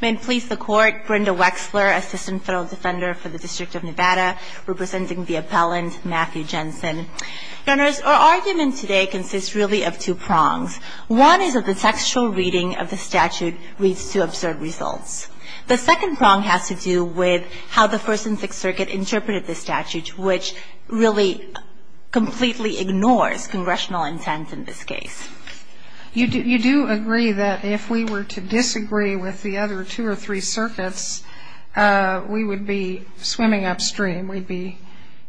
May it please the Court, Brenda Wexler, Assistant Federal Defender for the District of Nevada, representing the appellant Matthew Jensen. Your Honors, our argument today consists really of two prongs. One is that the textual reading of the statute leads to absurd results. The second prong has to do with how the First and Sixth Circuit interpreted the statute, which really completely ignores Congressional intent in this case. You do agree that if we were to disagree with the other two or three circuits, we would be swimming upstream. We'd be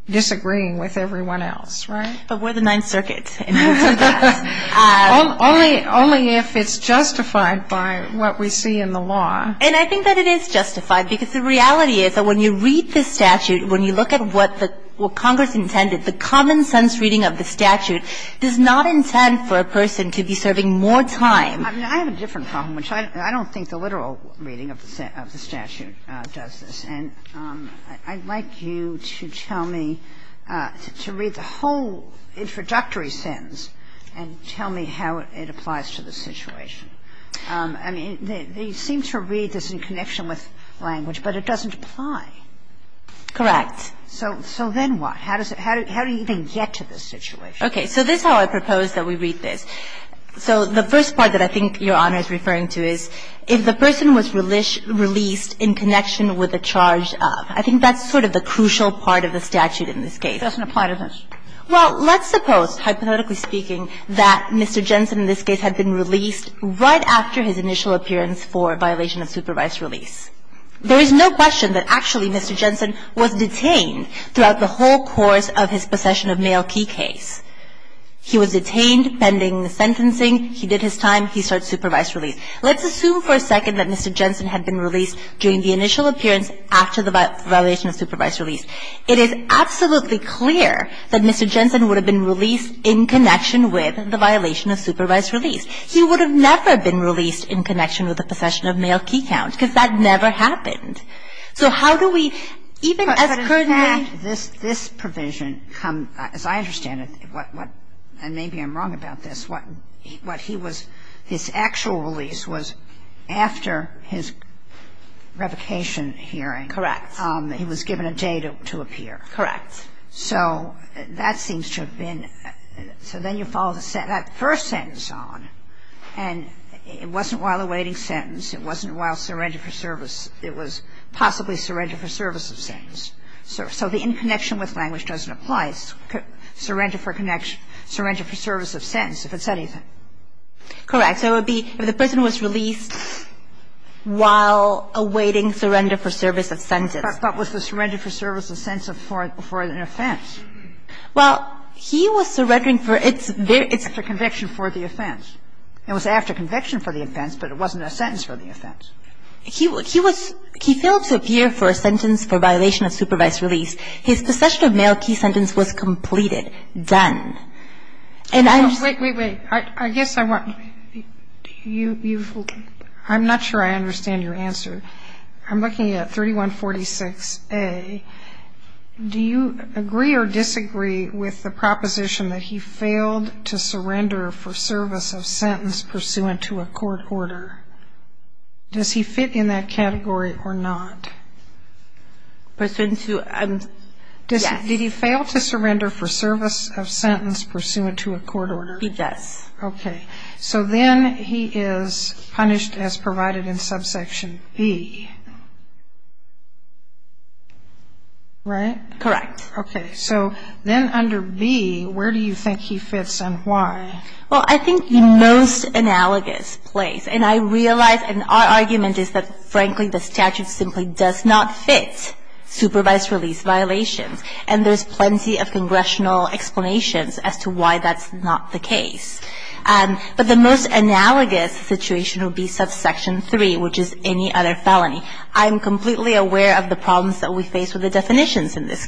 disagreeing with everyone else, right? But we're the Ninth Circuit, and we'll do that. Only if it's justified by what we see in the law. And I think that it is justified, because the reality is that when you read this statute, when you look at what Congress intended, the common-sense reading of the statute does not intend for a person to be serving more time. I mean, I have a different problem, which I don't think the literal reading of the statute does this. And I'd like you to tell me, to read the whole introductory sentence and tell me how it applies to the situation. I mean, they seem to read this in connection with language, but it doesn't apply. Correct. So then what? How does it – how do you even get to this situation? Okay. So this is how I propose that we read this. So the first part that I think Your Honor is referring to is if the person was released in connection with a charge of. I think that's sort of the crucial part of the statute in this case. It doesn't apply to this. Well, let's suppose, hypothetically speaking, that Mr. Jensen in this case had been released right after his initial appearance for violation of supervised release. There is no question that actually Mr. Jensen was detained throughout the whole course of his possession of mail key case. He was detained pending the sentencing. He did his time. He started supervised release. Let's assume for a second that Mr. Jensen had been released during the initial appearance after the violation of supervised release. It is absolutely clear that Mr. Jensen would have been released in connection with the violation of supervised release. He would have never been released in connection with the possession of mail key count because that never happened. So how do we, even as currently as I understand it, and maybe I'm wrong about this, what he was, his actual release was after his revocation hearing. Correct. He was given a day to appear. Correct. So that seems to have been, so then you follow that first sentence on, and it wasn't while awaiting sentence. It wasn't while surrender for service. It was possibly surrender for service of sentence. So the in connection with language doesn't apply. Surrender for connection, surrender for service of sentence, if it's anything. Correct. So it would be if the person was released while awaiting surrender for service of sentence. But was the surrender for service of sentence before an offense? Well, he was surrendering for, it's after conviction for the offense. It was after conviction for the offense, but it wasn't a sentence for the offense. He was, he failed to appear for a sentence for violation of supervised release. His possession of mail key sentence was completed, done. And I'm just. Wait, wait, wait. I guess I want, you, I'm not sure I understand your answer. I'm looking at 3146A. Do you agree or disagree with the proposition that he failed to surrender for service of sentence pursuant to a court order? Does he fit in that category or not? Pursuant to, yes. Did he fail to surrender for service of sentence pursuant to a court order? He does. Okay. So then he is punished as provided in subsection B. Right? Correct. Okay. So then under B, where do you think he fits and why? Well, I think the most analogous place, and I realize, and our argument is that, frankly, the statute simply does not fit supervised release violations. And there's plenty of congressional explanations as to why that's not the case. But the most analogous situation would be subsection 3, which is any other felony. I'm completely aware of the problems that we face with the definitions in this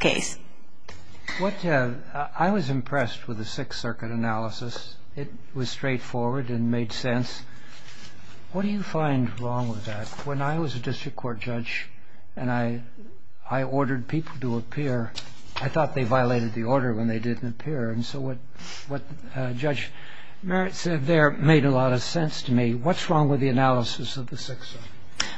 I was impressed with the Sixth Circuit analysis. It was straightforward and made sense. What do you find wrong with that? When I was a district court judge and I ordered people to appear, I thought they violated the order when they didn't appear. And so what Judge Merritt said there made a lot of sense to me. What's wrong with the analysis of the Sixth Circuit?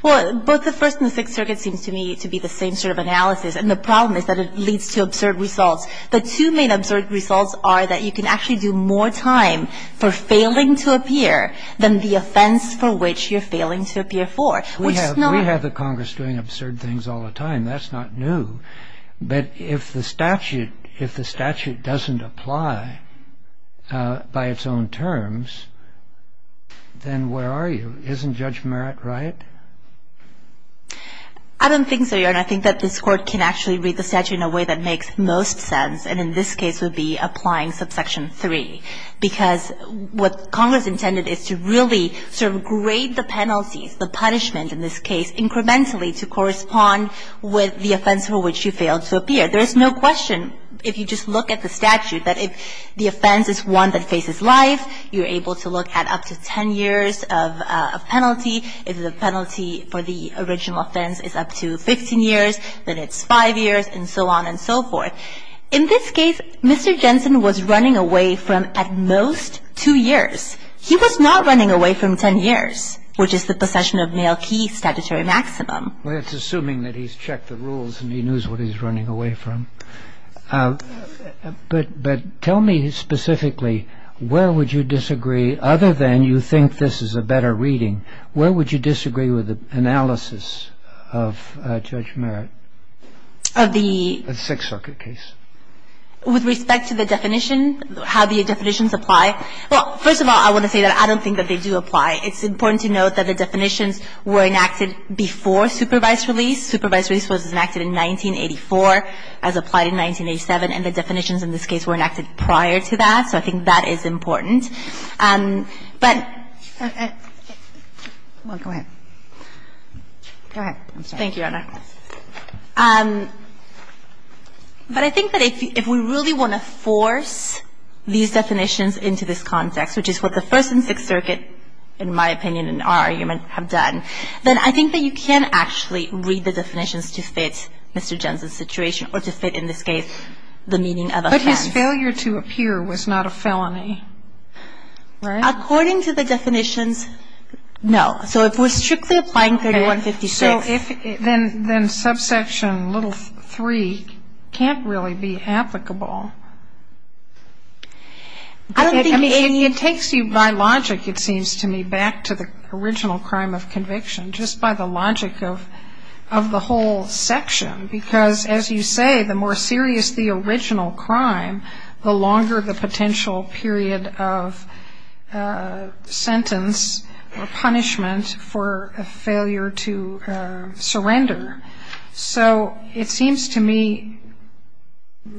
Well, both the First and the Sixth Circuit seems to me to be the same sort of analysis. And the problem is that it leads to absurd results. The two main absurd results are that you can actually do more time for failing to appear than the offense for which you're failing to appear for. We have the Congress doing absurd things all the time. That's not new. But if the statute doesn't apply by its own terms, then where are you? Isn't Judge Merritt right? I don't think so, Your Honor. I think that this Court can actually read the statute in a way that makes most sense, and in this case would be applying subsection 3, because what Congress intended is to really sort of grade the penalties, the punishment in this case, incrementally to correspond with the offense for which you failed to appear. There is no question, if you just look at the statute, that if the offense is one that faces life, you're able to look at up to 10 years of penalty. If the penalty for the original offense is up to 15 years, then it's five years, and so on and so forth. In this case, Mr. Jensen was running away from at most two years. He was not running away from 10 years, which is the possession of male key statutory maximum. Well, that's assuming that he's checked the rules and he knows what he's running away from. But tell me specifically, where would you disagree, other than you think this is a better reading, where would you disagree with the analysis of Judge Merritt? Of the... The Sixth Circuit case. With respect to the definition, how the definitions apply, well, first of all, I want to say that I don't think that they do apply. It's important to note that the definitions were enacted before supervised release. Supervised release was enacted in 1984, as applied in 1987, and the definitions in this case were enacted prior to that, so I think that is important. But... Well, go ahead. Go ahead. I'm sorry. Thank you, Your Honor. But I think that if we really want to force these definitions into this context, which is what the First and Sixth Circuit, in my opinion, in our argument, have done, then I think that you can actually read the definitions to fit Mr. Jensen's situation or to fit in this case the meaning of offense. But his failure to appear was not a felony, right? According to the definitions, no. So if we're strictly applying 3156... So if... Then subsection little 3 can't really be applicable. I don't think any... I mean, it takes you by logic, it seems to me, back to the original crime of conviction, just by the logic of the whole section, because, as you say, the more serious the original crime, the longer the potential period of sentence or punishment for a failure to surrender. So it seems to me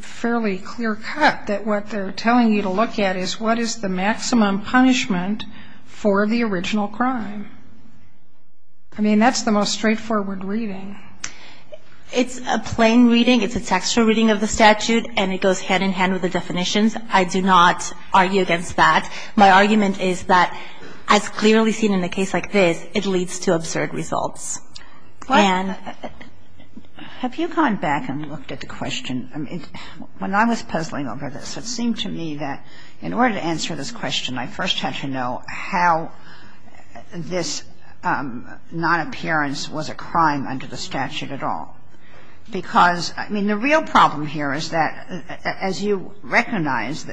fairly clear cut that what they're telling you to look at is what is the maximum punishment for the original crime. I mean, that's the most straightforward reading. It's a plain reading. It's a textual reading of the statute, and it goes hand in hand with the definitions. I do not argue against that. My argument is that, as clearly seen in a case like this, it leads to absurd results. And... Have you gone back and looked at the question? When I was puzzling over this, it seemed to me that in order to answer this question, I first had to know how this nonappearance was a crime under the statute at all. Because, I mean, the real problem here is that, as you recognize,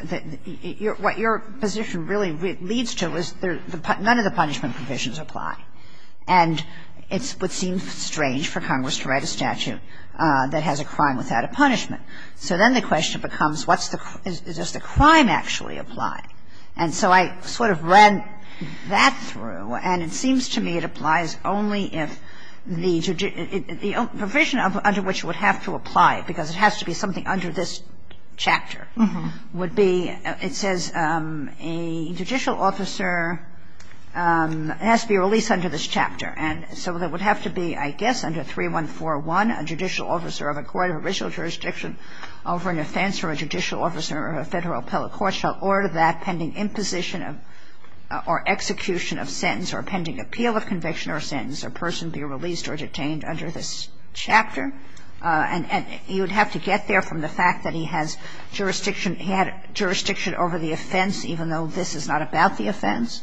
what your position really leads to is none of the punishment provisions apply. And it would seem strange for Congress to write a statute that has a crime without a punishment. So then the question becomes, what's the – does the crime actually apply? And so I sort of ran that through, and it seems to me it applies only if the provision under which it would have to apply, because it has to be something under this chapter, would be – it says a judicial officer has to be released under this chapter. And so it would have to be, I guess, under 3141, a judicial officer of a court of original jurisdiction over an offense or a judicial officer of a Federal appellate court shall order that pending imposition or execution of sentence or pending appeal of conviction or sentence, a person be released or detained under this chapter. And you would have to get there from the fact that he has jurisdiction – he had jurisdiction over the offense, even though this is not about the offense.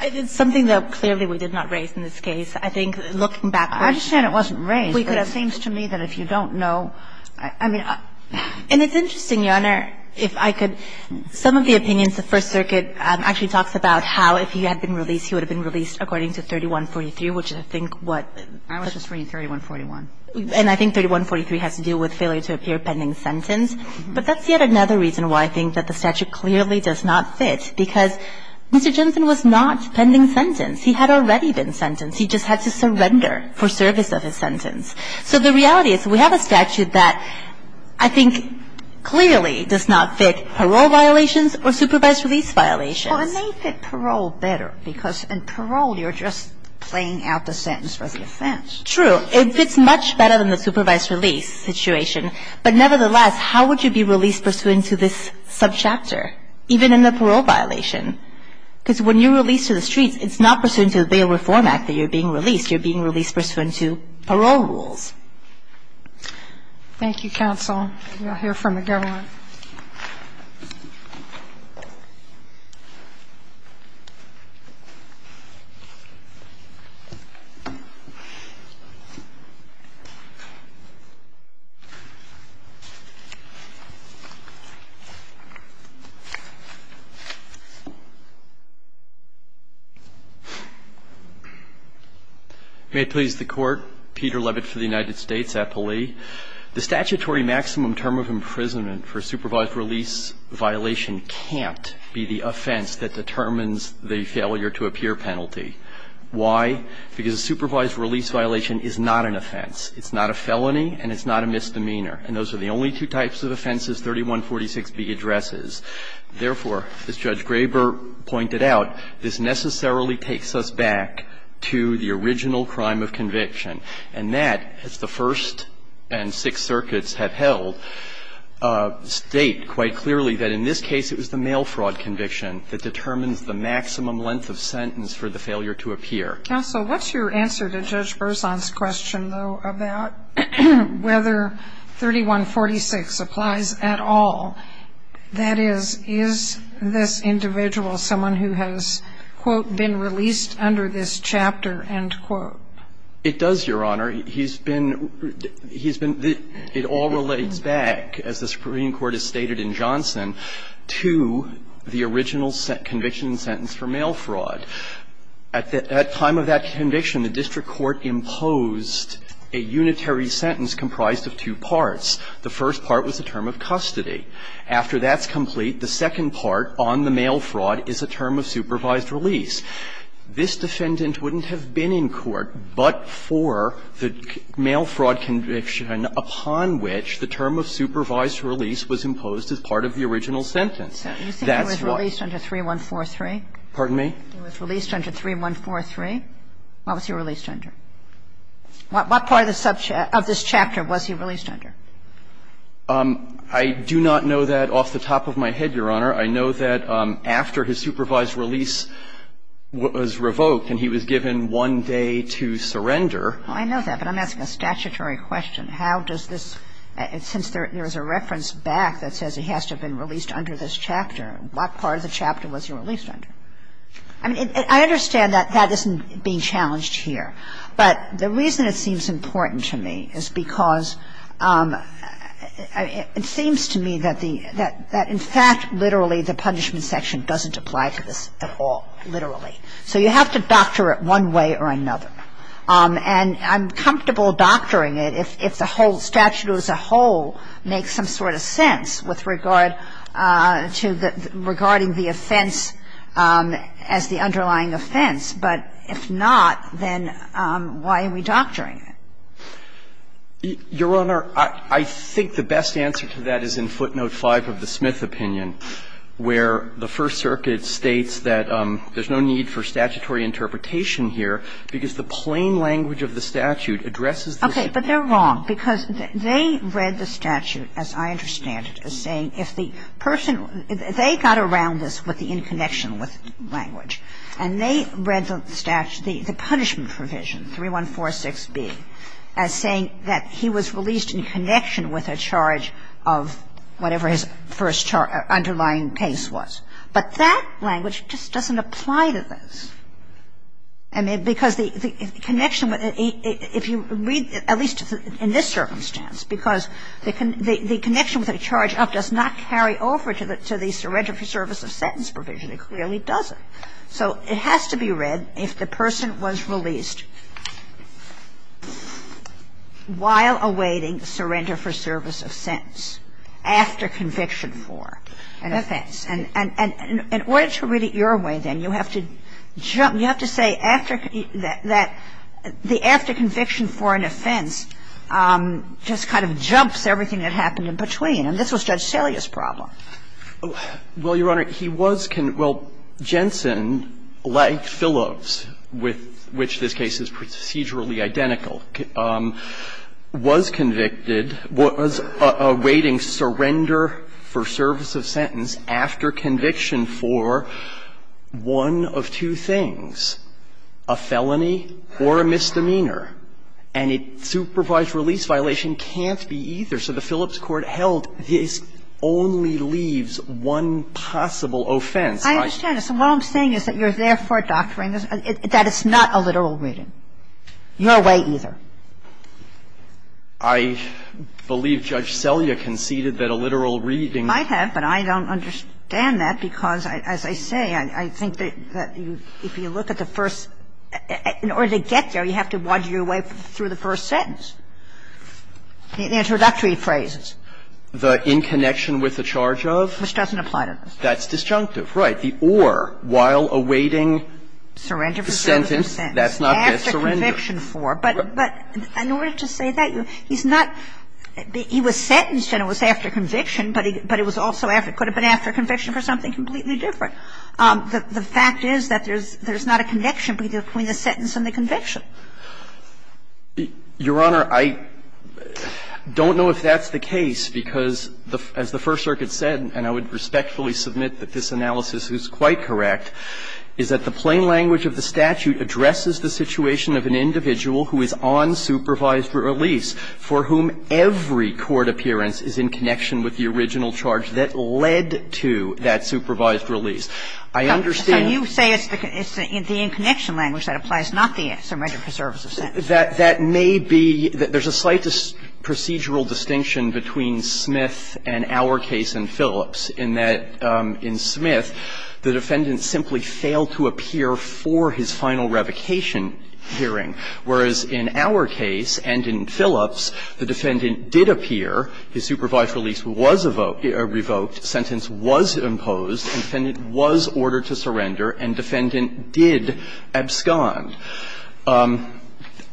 It's something that clearly we did not raise in this case. I think, looking back, we could have – I understand it wasn't raised. But it seems to me that if you don't know – I mean – And it's interesting, Your Honor, if I could – some of the opinions of First District, if he had been released, he would have been released according to 3143, which I think what – I was just reading 3141. And I think 3143 has to do with failure to appear pending sentence. But that's yet another reason why I think that the statute clearly does not fit, because Mr. Jensen was not pending sentence. He had already been sentenced. He just had to surrender for service of his sentence. So the reality is we have a statute that I think clearly does not fit parole violations or supervised release violations. Well, it may fit parole better, because in parole you're just playing out the sentence for the offense. True. It fits much better than the supervised release situation. But nevertheless, how would you be released pursuant to this subchapter, even in the parole violation? Because when you're released to the streets, it's not pursuant to the Bail Reform Act that you're being released. You're being released pursuant to parole rules. Thank you, counsel. We will hear from the government. Thank you, Your Honor. May it please the Court. Peter Levitt for the United States appealee. The statutory maximum term of imprisonment for a supervised release violation can't be the offense that determines the failure to appear penalty. Why? Because a supervised release violation is not an offense. It's not a felony and it's not a misdemeanor. And those are the only two types of offenses 3146B addresses. Therefore, as Judge Graber pointed out, this necessarily takes us back to the original crime of conviction. And that, as the First and Sixth Circuits have held, state quite clearly that in this case it was the mail fraud conviction that determines the maximum length of sentence for the failure to appear. Counsel, what's your answer to Judge Berzon's question, though, about whether 3146 applies at all? That is, is this individual someone who has, quote, been released under this chapter, end quote? It does, Your Honor. He's been, he's been, it all relates back, as the Supreme Court has stated in Johnson, to the original conviction sentence for mail fraud. At the time of that conviction, the district court imposed a unitary sentence comprised of two parts. The first part was the term of custody. After that's complete, the second part on the mail fraud is a term of supervised release. This defendant wouldn't have been in court but for the mail fraud conviction upon which the term of supervised release was imposed as part of the original sentence. That's what he was released under 3143. Pardon me? He was released under 3143. What was he released under? What part of the subchapter, of this chapter was he released under? I do not know that off the top of my head, Your Honor. I know that after his supervised release was revoked and he was given one day to surrender. I know that, but I'm asking a statutory question. How does this, since there is a reference back that says he has to have been released under this chapter, what part of the chapter was he released under? I mean, I understand that that isn't being challenged here, but the reason it seems important to me is because it seems to me that the, that in fact, literally, the punishment section doesn't apply to this at all, literally. So you have to doctor it one way or another. And I'm comfortable doctoring it if the whole statute as a whole makes some sort of sense with regard to the, regarding the offense as the underlying offense. But if not, then why are we doctoring it? Your Honor, I think the best answer to that is in footnote 5 of the Smith opinion, where the First Circuit states that there's no need for statutory interpretation here because the plain language of the statute addresses the ---- Okay. But they're wrong, because they read the statute, as I understand it, as saying if the person, they got around this with the in connection with language, and they read the statute, the punishment provision, 3146B, as saying that he was released in connection with a charge of whatever his first underlying case was. But that language just doesn't apply to this. I mean, because the connection, if you read, at least in this circumstance, because the connection with a charge up does not carry over to the, to the case itself. And so I think the best answer to that is in footnote 5 of the Smith opinion, where they read, if the person was released while awaiting surrender for service of sentence, after conviction for an offense. And in order to read it your way, then, you have to jump, you have to say after that, the after conviction for an offense just kind of jumps everything that happened in between. And this was Judge Salia's problem. Well, Your Honor, he was, well, Jensen, like Phillips, with which this case is procedurally identical, was convicted, was awaiting surrender for service of sentence after conviction for one of two things, a felony or a misdemeanor. And a supervised release violation can't be either. So the Phillips court held this only leaves one possible offense. I understand it. So what I'm saying is that you're therefore doctoring this, that it's not a literal reading. Your way, either. I believe Judge Salia conceded that a literal reading. I have, but I don't understand that because, as I say, I think that if you look at the first – in order to get there, you have to waddle your way through the first sentence. The introductory phrases. The in connection with the charge of? Which doesn't apply to this. That's disjunctive, right. The or, while awaiting the sentence. Surrender for service of sentence. That's not this. Surrender. After conviction for. But in order to say that, he's not – he was sentenced and it was after conviction, but it was also after – it could have been after conviction for something completely different. The fact is that there's not a connection between the sentence and the conviction. Your Honor, I don't know if that's the case because, as the First Circuit said, and I would respectfully submit that this analysis is quite correct, is that the plain language of the statute addresses the situation of an individual who is on supervised release for whom every court appearance is in connection with the original charge that led to that supervised release. I understand. You say it's the in connection language that applies, not the surrender for service of sentence. That may be – there's a slight procedural distinction between Smith and our case and Phillips in that, in Smith, the defendant simply failed to appear for his final revocation hearing, whereas in our case and in Phillips, the defendant did appear, his supervised release was revoked, sentence was imposed, and defendant was ordered to surrender, and defendant did abscond.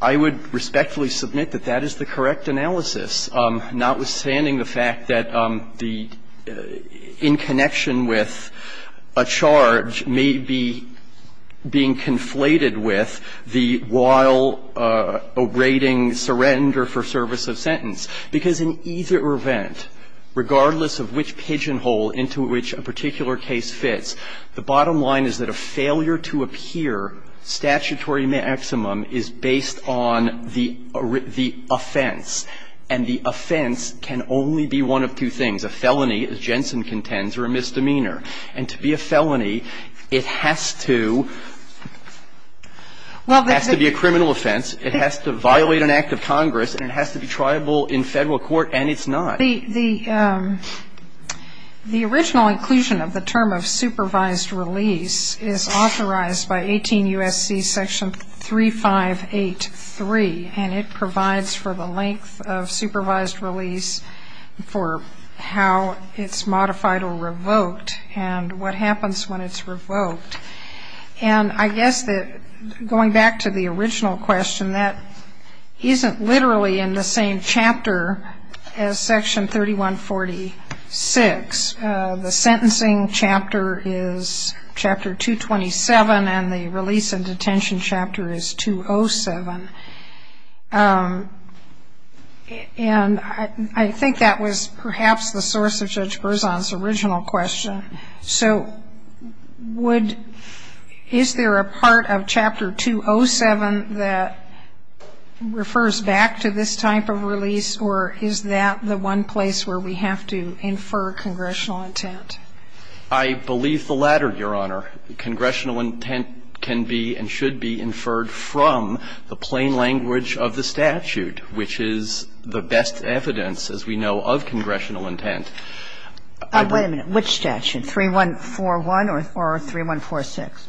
I would respectfully submit that that is the correct analysis, notwithstanding the fact that the in connection with a charge may be being conflated with the while awaiting surrender for service of sentence, because in either event, regardless of which pigeonhole into which a particular case fits, the bottom line is that a failure to appear, statutory maximum, is based on the offense, and the offense can only be one of two things, a felony, as Jensen contends, or a misdemeanor. And to be a felony, it has to be a criminal offense, it has to violate an act of Congress, and it has to be triable in Federal court, and it's not. The original inclusion of the term of supervised release is authorized by 18 U.S.C. section 3583, and it provides for the length of supervised release for how it's modified or revoked and what happens when it's revoked. And I guess that going back to the original question, that isn't literally in the same chapter as section 3146. The sentencing chapter is chapter 227, and the release and detention chapter is 207. And I think that was perhaps the source of Judge Berzon's original question. So would – is there a part of chapter 207 that refers back to this type of release, or is that the one place where we have to infer congressional intent? I believe the latter, Your Honor. Congressional intent can be and should be inferred from the plain language of the statute, which is the best evidence, as we know, of congressional intent. Wait a minute. Which statute? 3141 or 3146?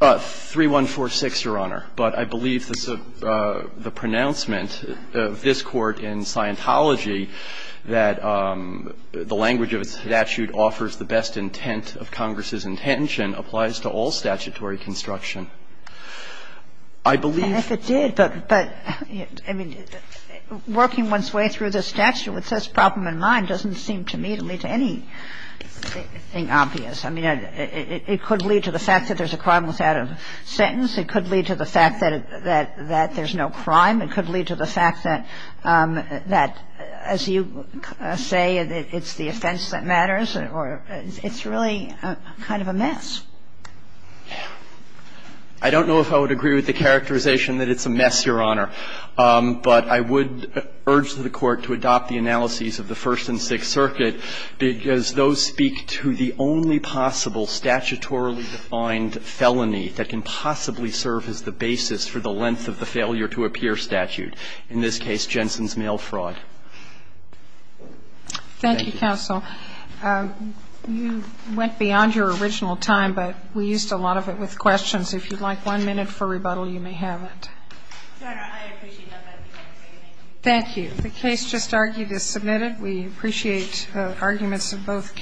3146, Your Honor. But I believe the pronouncement of this Court in Scientology that the language of a statute offers the best intent of Congress's intention applies to all statutory construction. I believe – And if it did, but – I mean, working one's way through the statute with this problem in mind doesn't seem to me to lead to anything obvious. I mean, it could lead to the fact that there's a crime without a sentence. It could lead to the fact that there's no crime. It could lead to the fact that, as you say, it's the offense that matters. Or it's really kind of a mess. I don't know if I would agree with the characterization that it's a mess, Your Honor. But I would urge the Court to adopt the analyses of the First and Sixth Circuit, because those speak to the only possible statutorily defined felony that can possibly serve as the basis for the length of the failure-to-appear statute, in this case, Jensen's mail fraud. Thank you. Thank you, counsel. You went beyond your original time, but we used a lot of it with questions. If you'd like one minute for rebuttal, you may have it. Your Honor, I appreciate that, but I can't say anything. Thank you. The case just argued is submitted. We appreciate the arguments of both counsel.